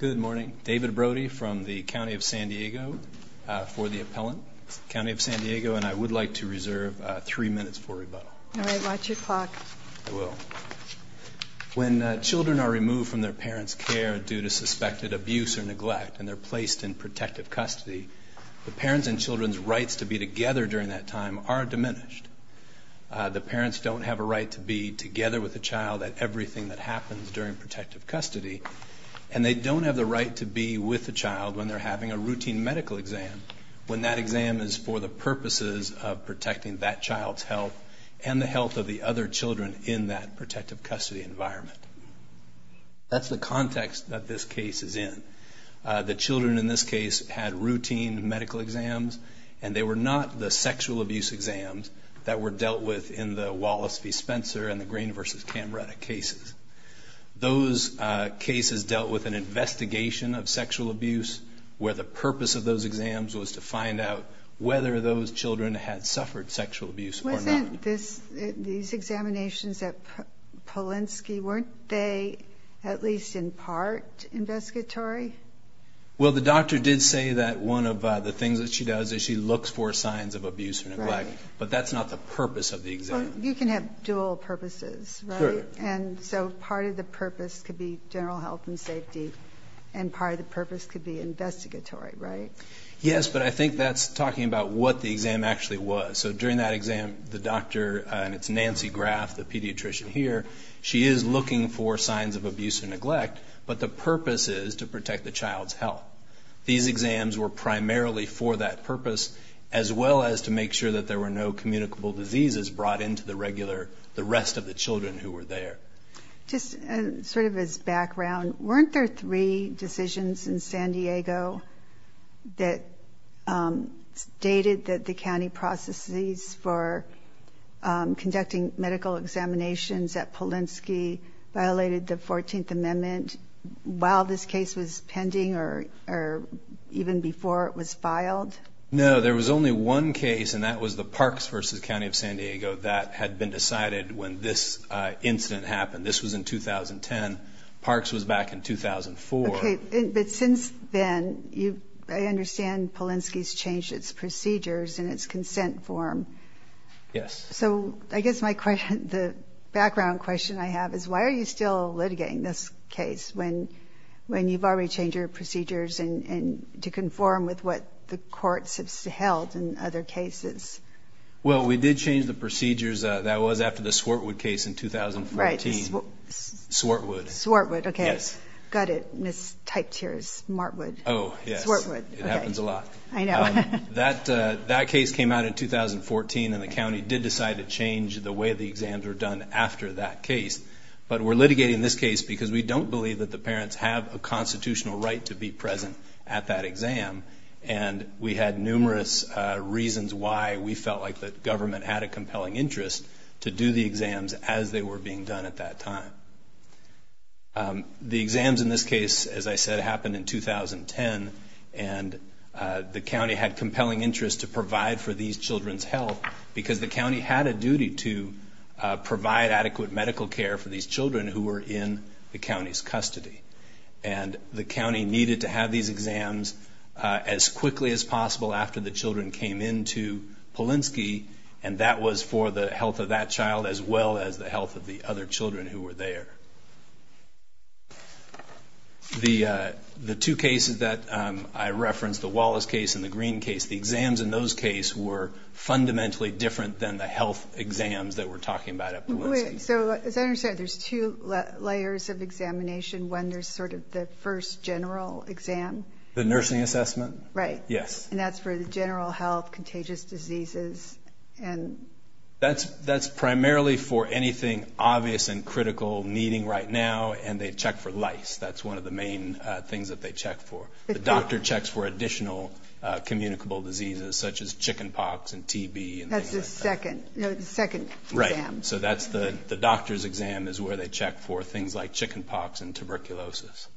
Good morning. David Brody from the County of San Diego for the appellant. County of San Diego, and I would like to reserve three minutes for rebuttal. All right. Watch your clock. I will. When children are removed from their parents' care due to suspected abuse or neglect and they're placed in protective custody, the parents and children's rights to be together during that time are diminished. The parents don't have a right to be together with the child at everything that happens during protective custody, and they don't have the right to be with the child when they're having a routine medical exam, when that exam is for the purposes of protecting that child's health and the health of the other children in that protective custody environment. That's the context that this case is in. The children in this case had routine medical exams, and they were not the sexual abuse exams that were dealt with in the Wallace v. Spencer and the Green v. Camretta cases. Those cases dealt with an investigation of sexual abuse where the purpose of those exams was to find out whether those children had suffered sexual abuse or not. Wasn't these examinations at Polinsky, weren't they at least in part investigatory? Well, the doctor did say that one of the things that she does is she looks for signs of abuse or neglect, but that's not the purpose of the exam. You can have dual purposes, right? Sure. And so part of the purpose could be general health and safety, and part of the purpose could be investigatory, right? Yes, but I think that's talking about what the exam actually was. So during that exam, the doctor, and it's Nancy Graff, the pediatrician here, she is looking for signs of abuse or neglect, but the purpose is to protect the child's health. These exams were primarily for that purpose, as well as to make sure that there were no communicable diseases brought into the regular, the rest of the children who were there. Just sort of as background, weren't there three decisions in San Diego that stated that the county processes for conducting medical examinations at Polinsky violated the 14th Amendment while this case was pending or even before it was filed? No, there was only one case, and that was the Parks v. County of San Diego. That had been decided when this incident happened. This was in 2010. Parks was back in 2004. Okay, but since then, I understand Polinsky's changed its procedures and its consent form. Yes. So I guess the background question I have is why are you still litigating this case when you've already changed your procedures to conform with what the courts have held in other cases? Well, we did change the procedures. That was after the Swartwood case in 2014. Right. Swartwood. Swartwood, okay. Yes. Got it, mistyped here as Smartwood. Oh, yes. Swartwood. It happens a lot. I know. That case came out in 2014, and the county did decide to change the way the exams were done after that case. But we're litigating this case because we don't believe that the parents have a constitutional right to be present at that exam, and we had numerous reasons why we felt like the government had a compelling interest to do the exams as they were being done at that time. The exams in this case, as I said, happened in 2010, and the county had compelling interest to provide for these children's health because the county had a duty to provide adequate medical care for these children who were in the county's custody. And the county needed to have these exams as quickly as possible after the children came in to Polinsky, and that was for the health of that child as well as the health of the other children who were there. The two cases that I referenced, the Wallace case and the Green case, the exams in those cases were fundamentally different than the health exams that we're talking about at Polinsky. So as I understand, there's two layers of examination. One, there's sort of the first general exam. The nursing assessment? Right. Yes. And that's for the general health, contagious diseases. That's primarily for anything obvious and critical, needing right now, and they check for lice. That's one of the main things that they check for. The doctor checks for additional communicable diseases such as chicken pox and TB. That's the second exam. Right. So that's the doctor's exam is where they check for things like chicken pox and tuberculosis.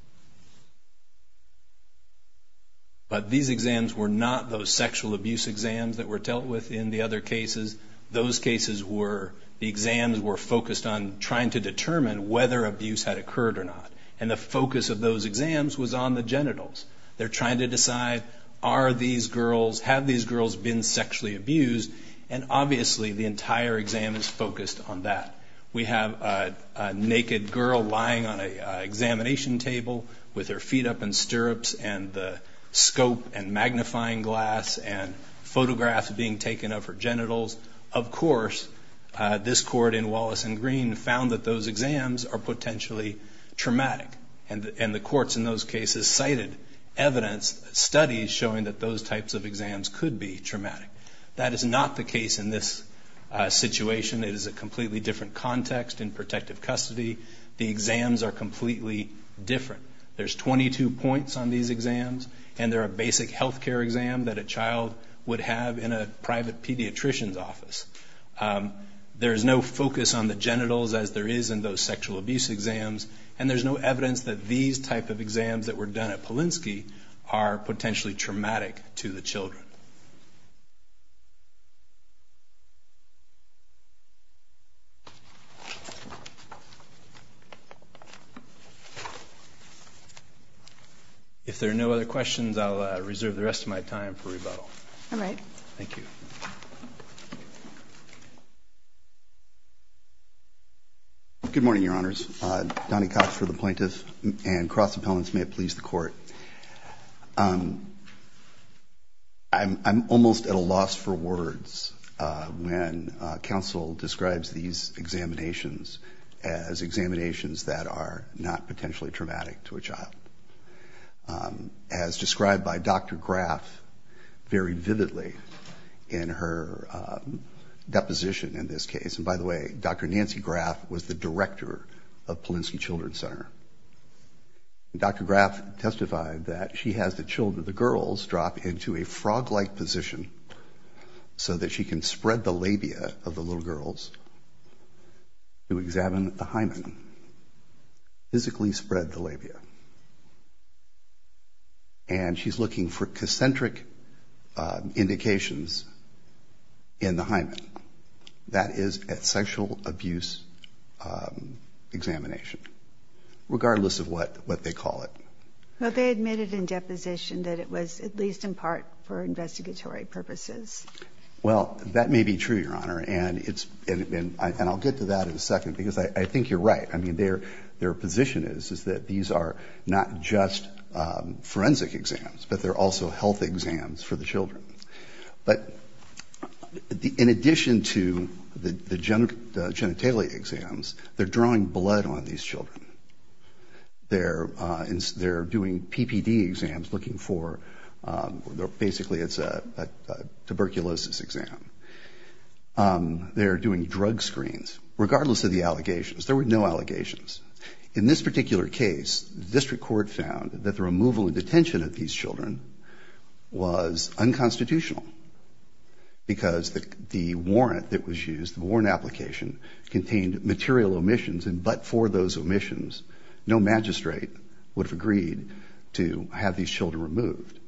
But these exams were not those sexual abuse exams that were dealt with in the other cases. Those cases were the exams were focused on trying to determine whether abuse had occurred or not, and the focus of those exams was on the genitals. They're trying to decide are these girls, have these girls been sexually abused, and obviously the entire exam is focused on that. We have a naked girl lying on an examination table with her feet up in stirrups and the scope and magnifying glass and photographs being taken of her genitals. Of course, this court in Wallace and Green found that those exams are potentially traumatic, and the courts in those cases cited evidence studies showing that those types of exams could be traumatic. That is not the case in this situation. It is a completely different context in protective custody. The exams are completely different. There's 22 points on these exams, and they're a basic health care exam that a child would have in a private pediatrician's office. There is no focus on the genitals as there is in those sexual abuse exams, and there's no evidence that these type of exams that were done at Polinsky are potentially traumatic to the children. If there are no other questions, I'll reserve the rest of my time for rebuttal. All right. Thank you. Good morning, Your Honors. Donnie Cox for the plaintiff, and Cross Appellants, may it please the Court. I'm almost at a loss for words when counsel describes these examinations as examinations that are not potentially traumatic to a child. As described by Dr. Graf very vividly in her deposition in this case, and by the way, Dr. Nancy Graf was the director of Polinsky Children's Center. Dr. Graf testified that she has the children, the girls, drop into a frog-like position so that she can spread the labia of the little girls to examine the hymen, physically spread the labia, and she's looking for concentric indications in the hymen. That is a sexual abuse examination, regardless of what they call it. But they admitted in deposition that it was at least in part for investigatory purposes. And I'll get to that in a second, because I think you're right. I mean, their position is that these are not just forensic exams, but they're also health exams for the children. But in addition to the genitalia exams, they're drawing blood on these children. They're doing PPD exams looking for, basically it's a tuberculosis exam. They're doing drug screens, regardless of the allegations. There were no allegations. In this particular case, the district court found that the removal and detention of these children was unconstitutional, because the warrant that was used, the warrant application, contained material omissions, and but for those omissions, no magistrate would have agreed to have these children removed.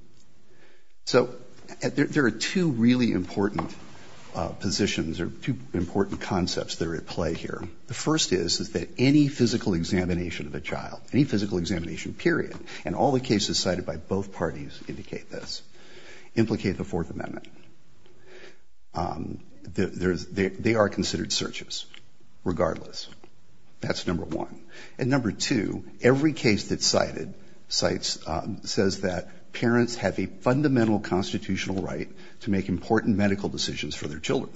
So there are two really important positions or two important concepts that are at play here. The first is that any physical examination of a child, any physical examination, period, and all the cases cited by both parties indicate this, implicate the Fourth Amendment. They are considered searches, regardless. That's number one. And number two, every case that's cited says that parents have a fundamental constitutional right to make important medical decisions for their children.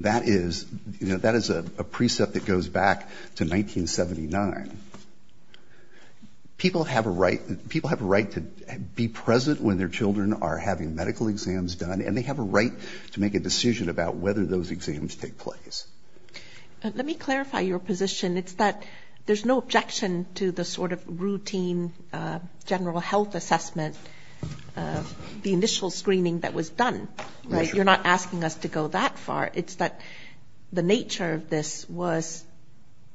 That is, you know, that is a precept that goes back to 1979. People have a right to be present when their children are having medical exams done, and they have a right to make a decision about whether those exams take place. Let me clarify your position. It's that there's no objection to the sort of routine general health assessment, the initial screening that was done, right? You're not asking us to go that far. It's that the nature of this was,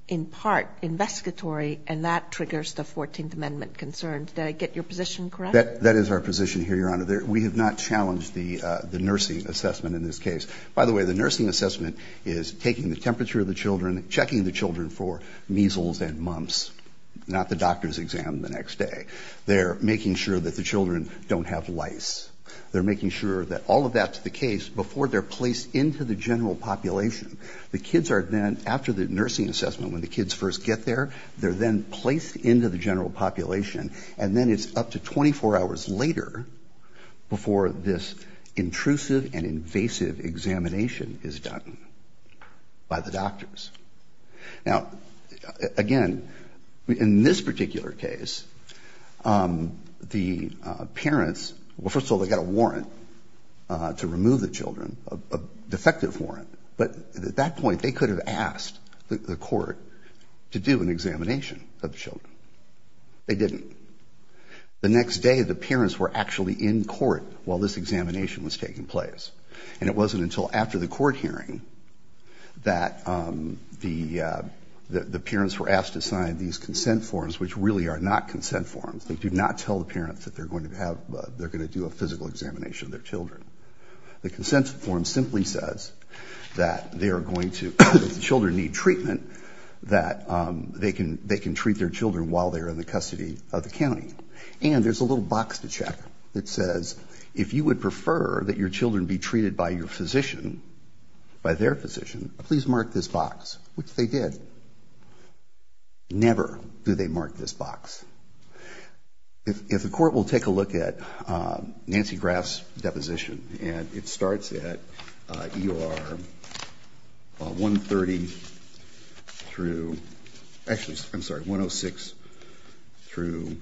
in part, investigatory, and that triggers the Fourteenth Amendment concerns. Did I get your position correct? That is our position here, Your Honor. We have not challenged the nursing assessment in this case. By the way, the nursing assessment is taking the temperature of the children, checking the children for measles and mumps, not the doctor's exam the next day. They're making sure that the children don't have lice. They're making sure that all of that's the case before they're placed into the general population. The kids are then, after the nursing assessment, when the kids first get there, they're then placed into the general population, and then it's up to 24 hours later before this intrusive and invasive examination is done by the doctors. Now, again, in this particular case, the parents, well, first of all, they got a warrant to remove the children, a defective warrant. But at that point, they could have asked the court to do an examination of the children. They didn't. The next day, the parents were actually in court while this examination was taking place, and it wasn't until after the court hearing that the parents were asked to sign these consent forms, which really are not consent forms. They do not tell the parents that they're going to do a physical examination of their children. The consent form simply says that the children need treatment, that they can treat their children while they're in the custody of the county. And there's a little box to check that says, if you would prefer that your children be treated by your physician, by their physician, please mark this box, which they did. Never do they mark this box. If the court will take a look at Nancy Graf's deposition, and it starts at ER 130 through, actually, I'm sorry, 106 through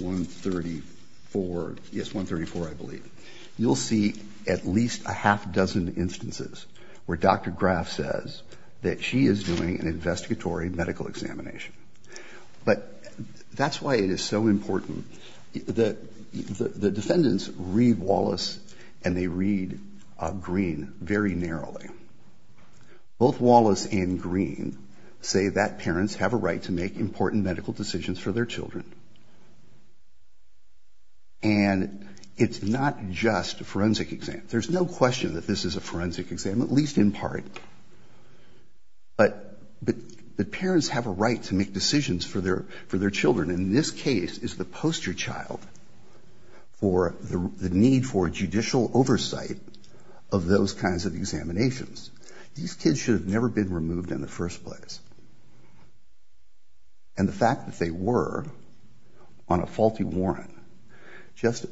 134, yes, 134, I believe. You'll see at least a half dozen instances where Dr. Graf says that she is doing an investigatory medical examination. But that's why it is so important that the defendants read Wallace and they read Green very narrowly. Both Wallace and Green say that parents have a right to make important medical decisions for their children. And it's not just a forensic exam. There's no question that this is a forensic exam, at least in part. But parents have a right to make decisions for their children. And this case is the poster child for the need for judicial oversight of those kinds of examinations. These kids should have never been removed in the first place. And the fact that they were on a faulty warrant just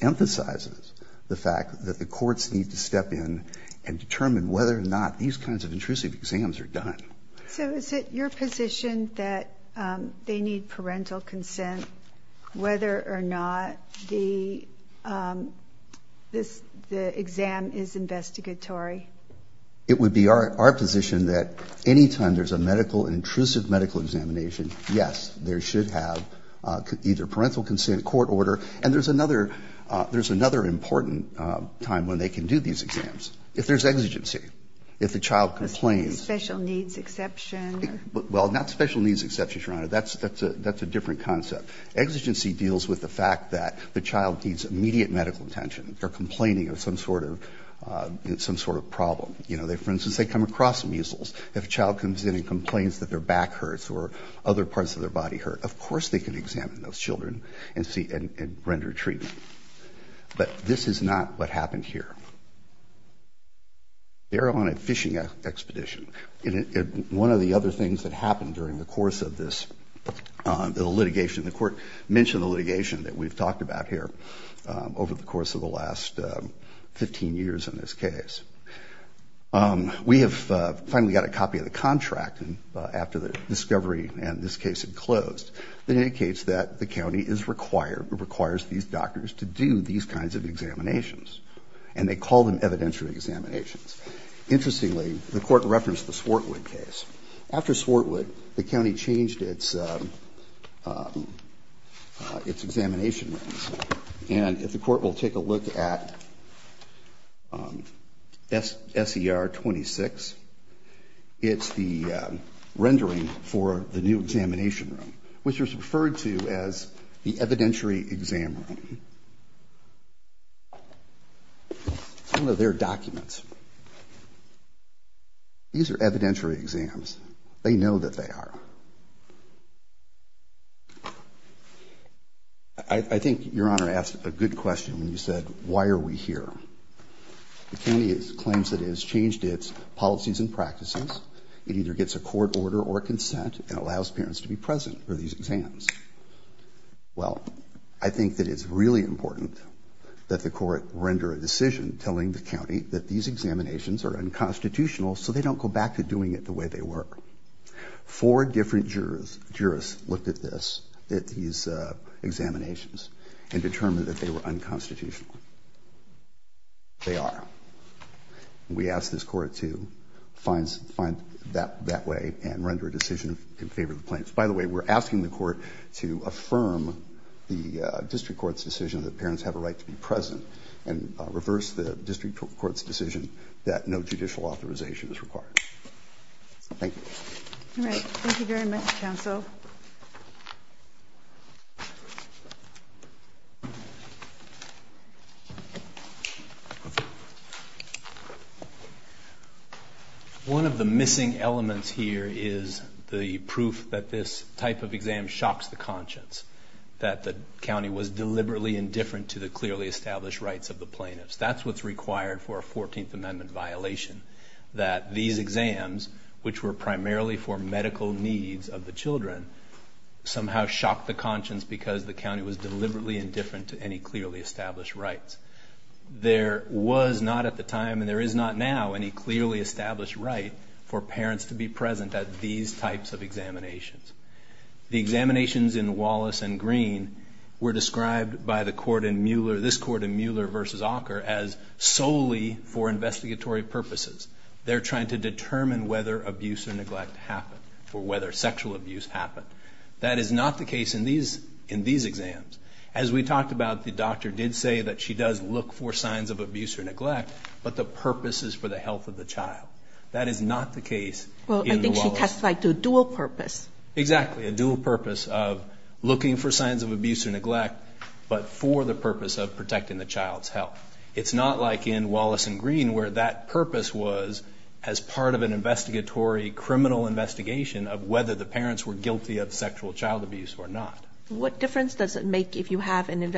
emphasizes the fact that the courts need to step in and determine whether or not these kinds of intrusive exams are done. So is it your position that they need parental consent whether or not the exam is investigatory? It would be our position that any time there's a medical, intrusive medical examination, yes, they should have either parental consent, court order. And there's another important time when they can do these exams. If there's exigency, if the child complains. Special needs exception. Well, not special needs exception, Your Honor. That's a different concept. Exigency deals with the fact that the child needs immediate medical attention or complaining of some sort of problem. For instance, they come across measles. If a child comes in and complains that their back hurts or other parts of their body hurt, of course they can examine those children and render treatment. But this is not what happened here. They're on a fishing expedition. One of the other things that happened during the course of this litigation, the court mentioned the litigation that we've talked about here over the course of the last 15 years in this case. We have finally got a copy of the contract after the discovery and this case had closed that indicates that the county is required or requires these doctors to do these kinds of examinations. And they call them evidentiary examinations. Interestingly, the court referenced the Swartwood case. After Swartwood, the county changed its examination rooms. And if the court will take a look at SER 26, it's the rendering for the new examination room, which was referred to as the evidentiary exam room. Some of their documents. These are evidentiary exams. They know that they are. I think Your Honor asked a good question when you said, why are we here? The county claims that it has changed its policies and practices. It either gets a court order or consent and allows parents to be present for these exams. Well, I think that it's really important that the court render a decision telling the county that these examinations are unconstitutional so they don't go back to doing it the way they were. Four different jurors looked at this, at these examinations, and determined that they were unconstitutional. They are. We ask this Court to find that way and render a decision in favor of the plaintiffs. By the way, we're asking the Court to affirm the district court's decision that parents have a right to be present and reverse the district court's decision that no judicial authorization is required. Thank you. All right. Thank you very much, counsel. One of the missing elements here is the proof that this type of exam shocks the rights of the plaintiffs. That's what's required for a Fourteenth Amendment violation, that these exams, which were primarily for medical needs of the children, somehow shocked the conscience because the county was deliberately indifferent to any clearly established rights. There was not at the time, and there is not now, any clearly established right for parents to be present at these types of examinations. The examinations in Wallace and Green were described by this Court in Mueller v. Auker as solely for investigatory purposes. They're trying to determine whether abuse or neglect happened or whether sexual abuse happened. That is not the case in these exams. As we talked about, the doctor did say that she does look for signs of abuse or neglect, but the purpose is for the health of the child. That is not the case in Wallace. They testified to a dual purpose. Exactly. A dual purpose of looking for signs of abuse or neglect, but for the purpose of protecting the child's health. It's not like in Wallace and Green where that purpose was as part of an investigatory criminal investigation of whether the parents were guilty of sexual child abuse or not. What difference does it make if you have an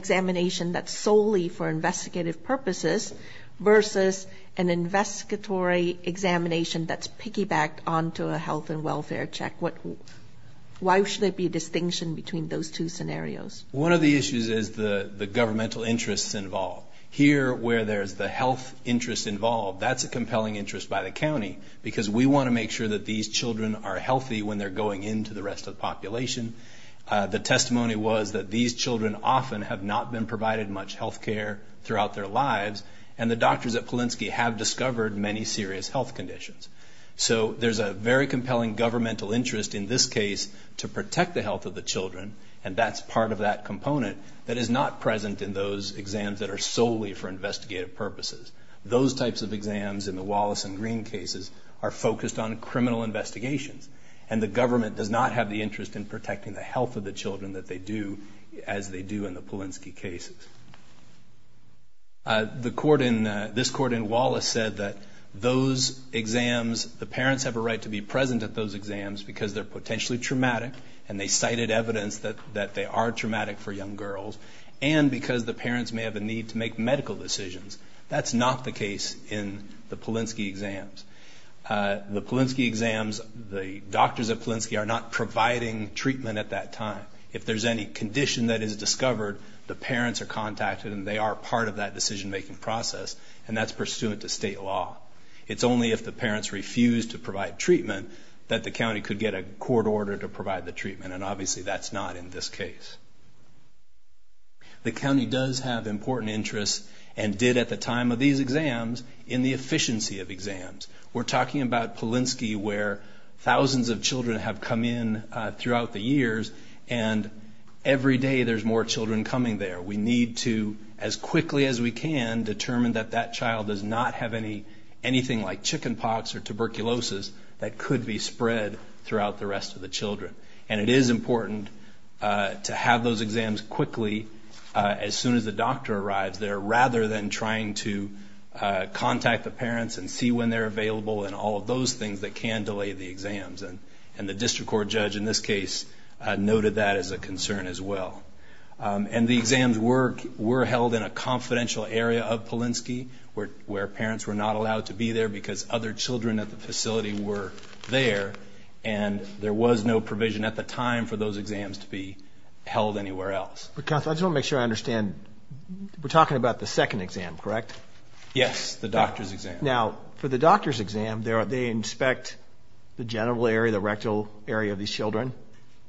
examination that's solely for investigative purposes versus an investigatory examination that's piggybacked onto a health and welfare check? Why should there be a distinction between those two scenarios? One of the issues is the governmental interests involved. Here where there's the health interest involved, that's a compelling interest by the county because we want to make sure that these children are healthy when they're going into the rest of the population. The testimony was that these children often have not been provided much health care throughout their lives, and the doctors at Polinsky have discovered many serious health conditions. So there's a very compelling governmental interest in this case to protect the health of the children, and that's part of that component that is not present in those exams that are solely for investigative purposes. Those types of exams in the Wallace and Green cases are focused on criminal investigations, and the government does not have the interest in protecting the health of the children that they do as they do in the Polinsky cases. This court in Wallace said that those exams, the parents have a right to be present at those exams because they're potentially traumatic, and they cited evidence that they are traumatic for young girls, and because the parents may have a need to make medical decisions. That's not the case in the Polinsky exams. The Polinsky exams, the doctors at Polinsky are not providing treatment at that time. If there's any condition that is discovered, the parents are contacted and they are part of that decision-making process, and that's pursuant to state law. It's only if the parents refuse to provide treatment that the county could get a court order to provide the treatment, and obviously that's not in this case. The county does have important interests and did at the time of these exams in the efficiency of exams. We're talking about Polinsky where thousands of children have come in throughout the years, and every day there's more children coming there. We need to, as quickly as we can, determine that that child does not have anything like chicken pox or tuberculosis that could be spread throughout the rest of the children, and it is important to have those exams quickly as soon as the doctor arrives there rather than trying to contact the parents and see when they're available and all of those things that can delay the exams, and this case noted that as a concern as well. And the exams were held in a confidential area of Polinsky where parents were not allowed to be there because other children at the facility were there, and there was no provision at the time for those exams to be held anywhere else. I just want to make sure I understand. We're talking about the second exam, correct? Yes, the doctor's exam. Now, for the doctor's exam, they inspect the genital area, the rectal area of these children?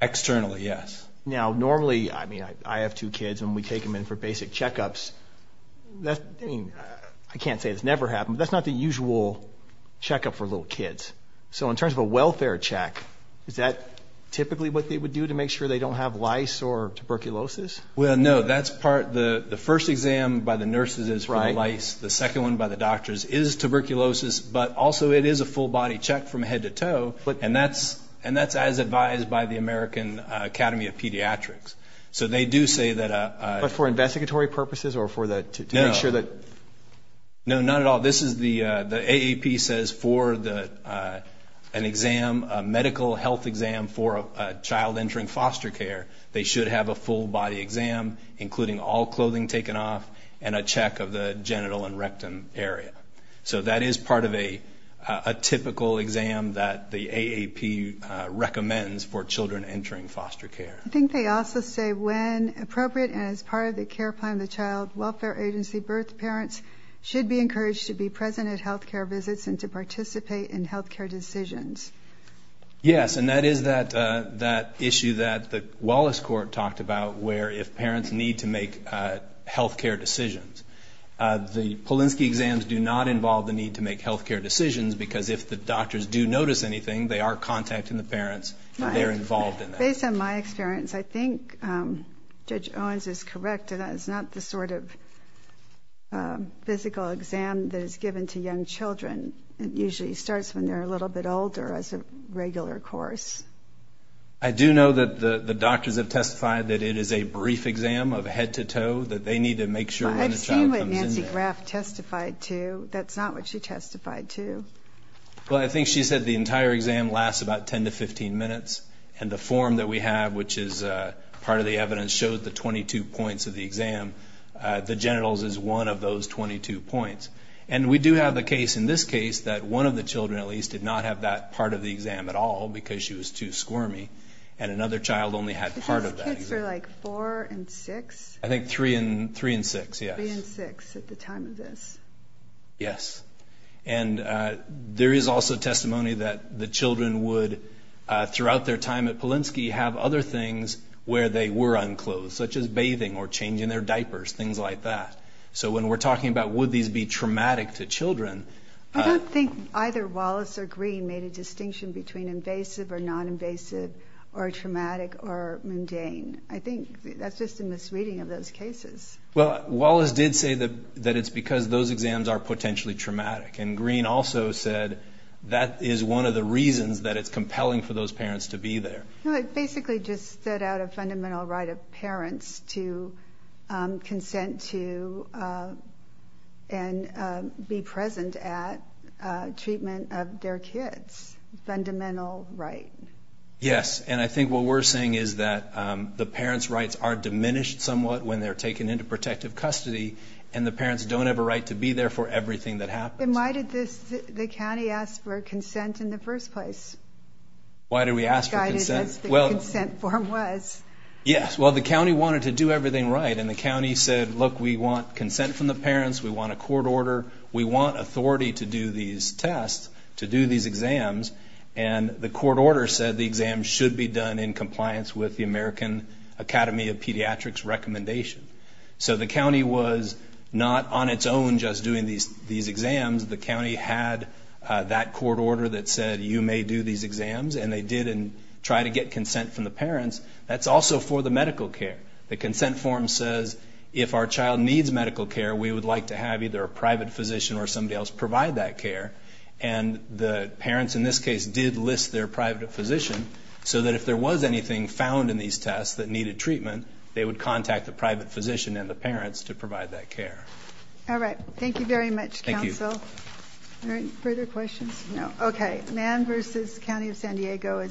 Externally, yes. Now, normally, I mean, I have two kids and we take them in for basic checkups. I mean, I can't say it's never happened, but that's not the usual checkup for little kids. So in terms of a welfare check, is that typically what they would do to make sure they don't have lice or tuberculosis? Well, no. That's part. The first exam by the nurses is for the lice. The second one by the doctors is tuberculosis, but also it is a full-body check from head to toe, and that's as advised by the American Academy of Pediatrics. But for investigatory purposes or to make sure that? No, not at all. The AAP says for an exam, a medical health exam for a child entering foster care, they should have a full-body exam including all clothing taken off and a check of the genital and rectum area. So that is part of a typical exam that the AAP recommends for children entering foster care. I think they also say when appropriate and as part of the care plan of the Child Welfare Agency, birth parents should be encouraged to be present at health care visits and to participate in health care decisions. Yes, and that is that issue that the Wallace Court talked about where if Polinsky exams do not involve the need to make health care decisions, because if the doctors do notice anything, they are contacting the parents and they're involved in that. Based on my experience, I think Judge Owens is correct in that it's not the sort of physical exam that is given to young children. It usually starts when they're a little bit older as a regular course. I do know that the doctors have testified that it is a brief exam of head to toe, that they need to make sure when a child comes in there. That's what Nancy Graff testified to. That's not what she testified to. Well, I think she said the entire exam lasts about 10 to 15 minutes. And the form that we have, which is part of the evidence, shows the 22 points of the exam. The genitals is one of those 22 points. And we do have a case in this case that one of the children at least did not have that part of the exam at all because she was too squirmy, and another child only had part of that. The kids were like four and six? I think three and six, yes. Three and six at the time of this. Yes. And there is also testimony that the children would, throughout their time at Polinsky, have other things where they were unclothed, such as bathing or changing their diapers, things like that. So when we're talking about would these be traumatic to children. I don't think either Wallace or Green made a distinction between invasive or non-invasive or traumatic or mundane. I think that's just a misreading of those cases. Well, Wallace did say that it's because those exams are potentially traumatic. And Green also said that is one of the reasons that it's compelling for those parents to be there. It basically just set out a fundamental right of parents to consent to and be present at treatment of their kids. Fundamental right. Yes. And I think what we're saying is that the parents' rights are diminished somewhat when they're taken into protective custody, and the parents don't have a right to be there for everything that happens. And why did the county ask for consent in the first place? Why did we ask for consent? That's what the consent form was. Yes. Well, the county wanted to do everything right. And the county said, look, we want consent from the parents. We want a court order. We want authority to do these tests, to do these exams. And the court order said the exams should be done in compliance with the recommendation. So the county was not on its own just doing these exams. The county had that court order that said you may do these exams, and they did and tried to get consent from the parents. That's also for the medical care. The consent form says if our child needs medical care, we would like to have either a private physician or somebody else provide that care. And the parents in this case did list their private physician so that if there was anything found in these tests that needed treatment, they would contact the private physician and the parents to provide that care. All right. Thank you very much, counsel. Thank you. Are there any further questions? No. Okay. Mann v. County of San Diego.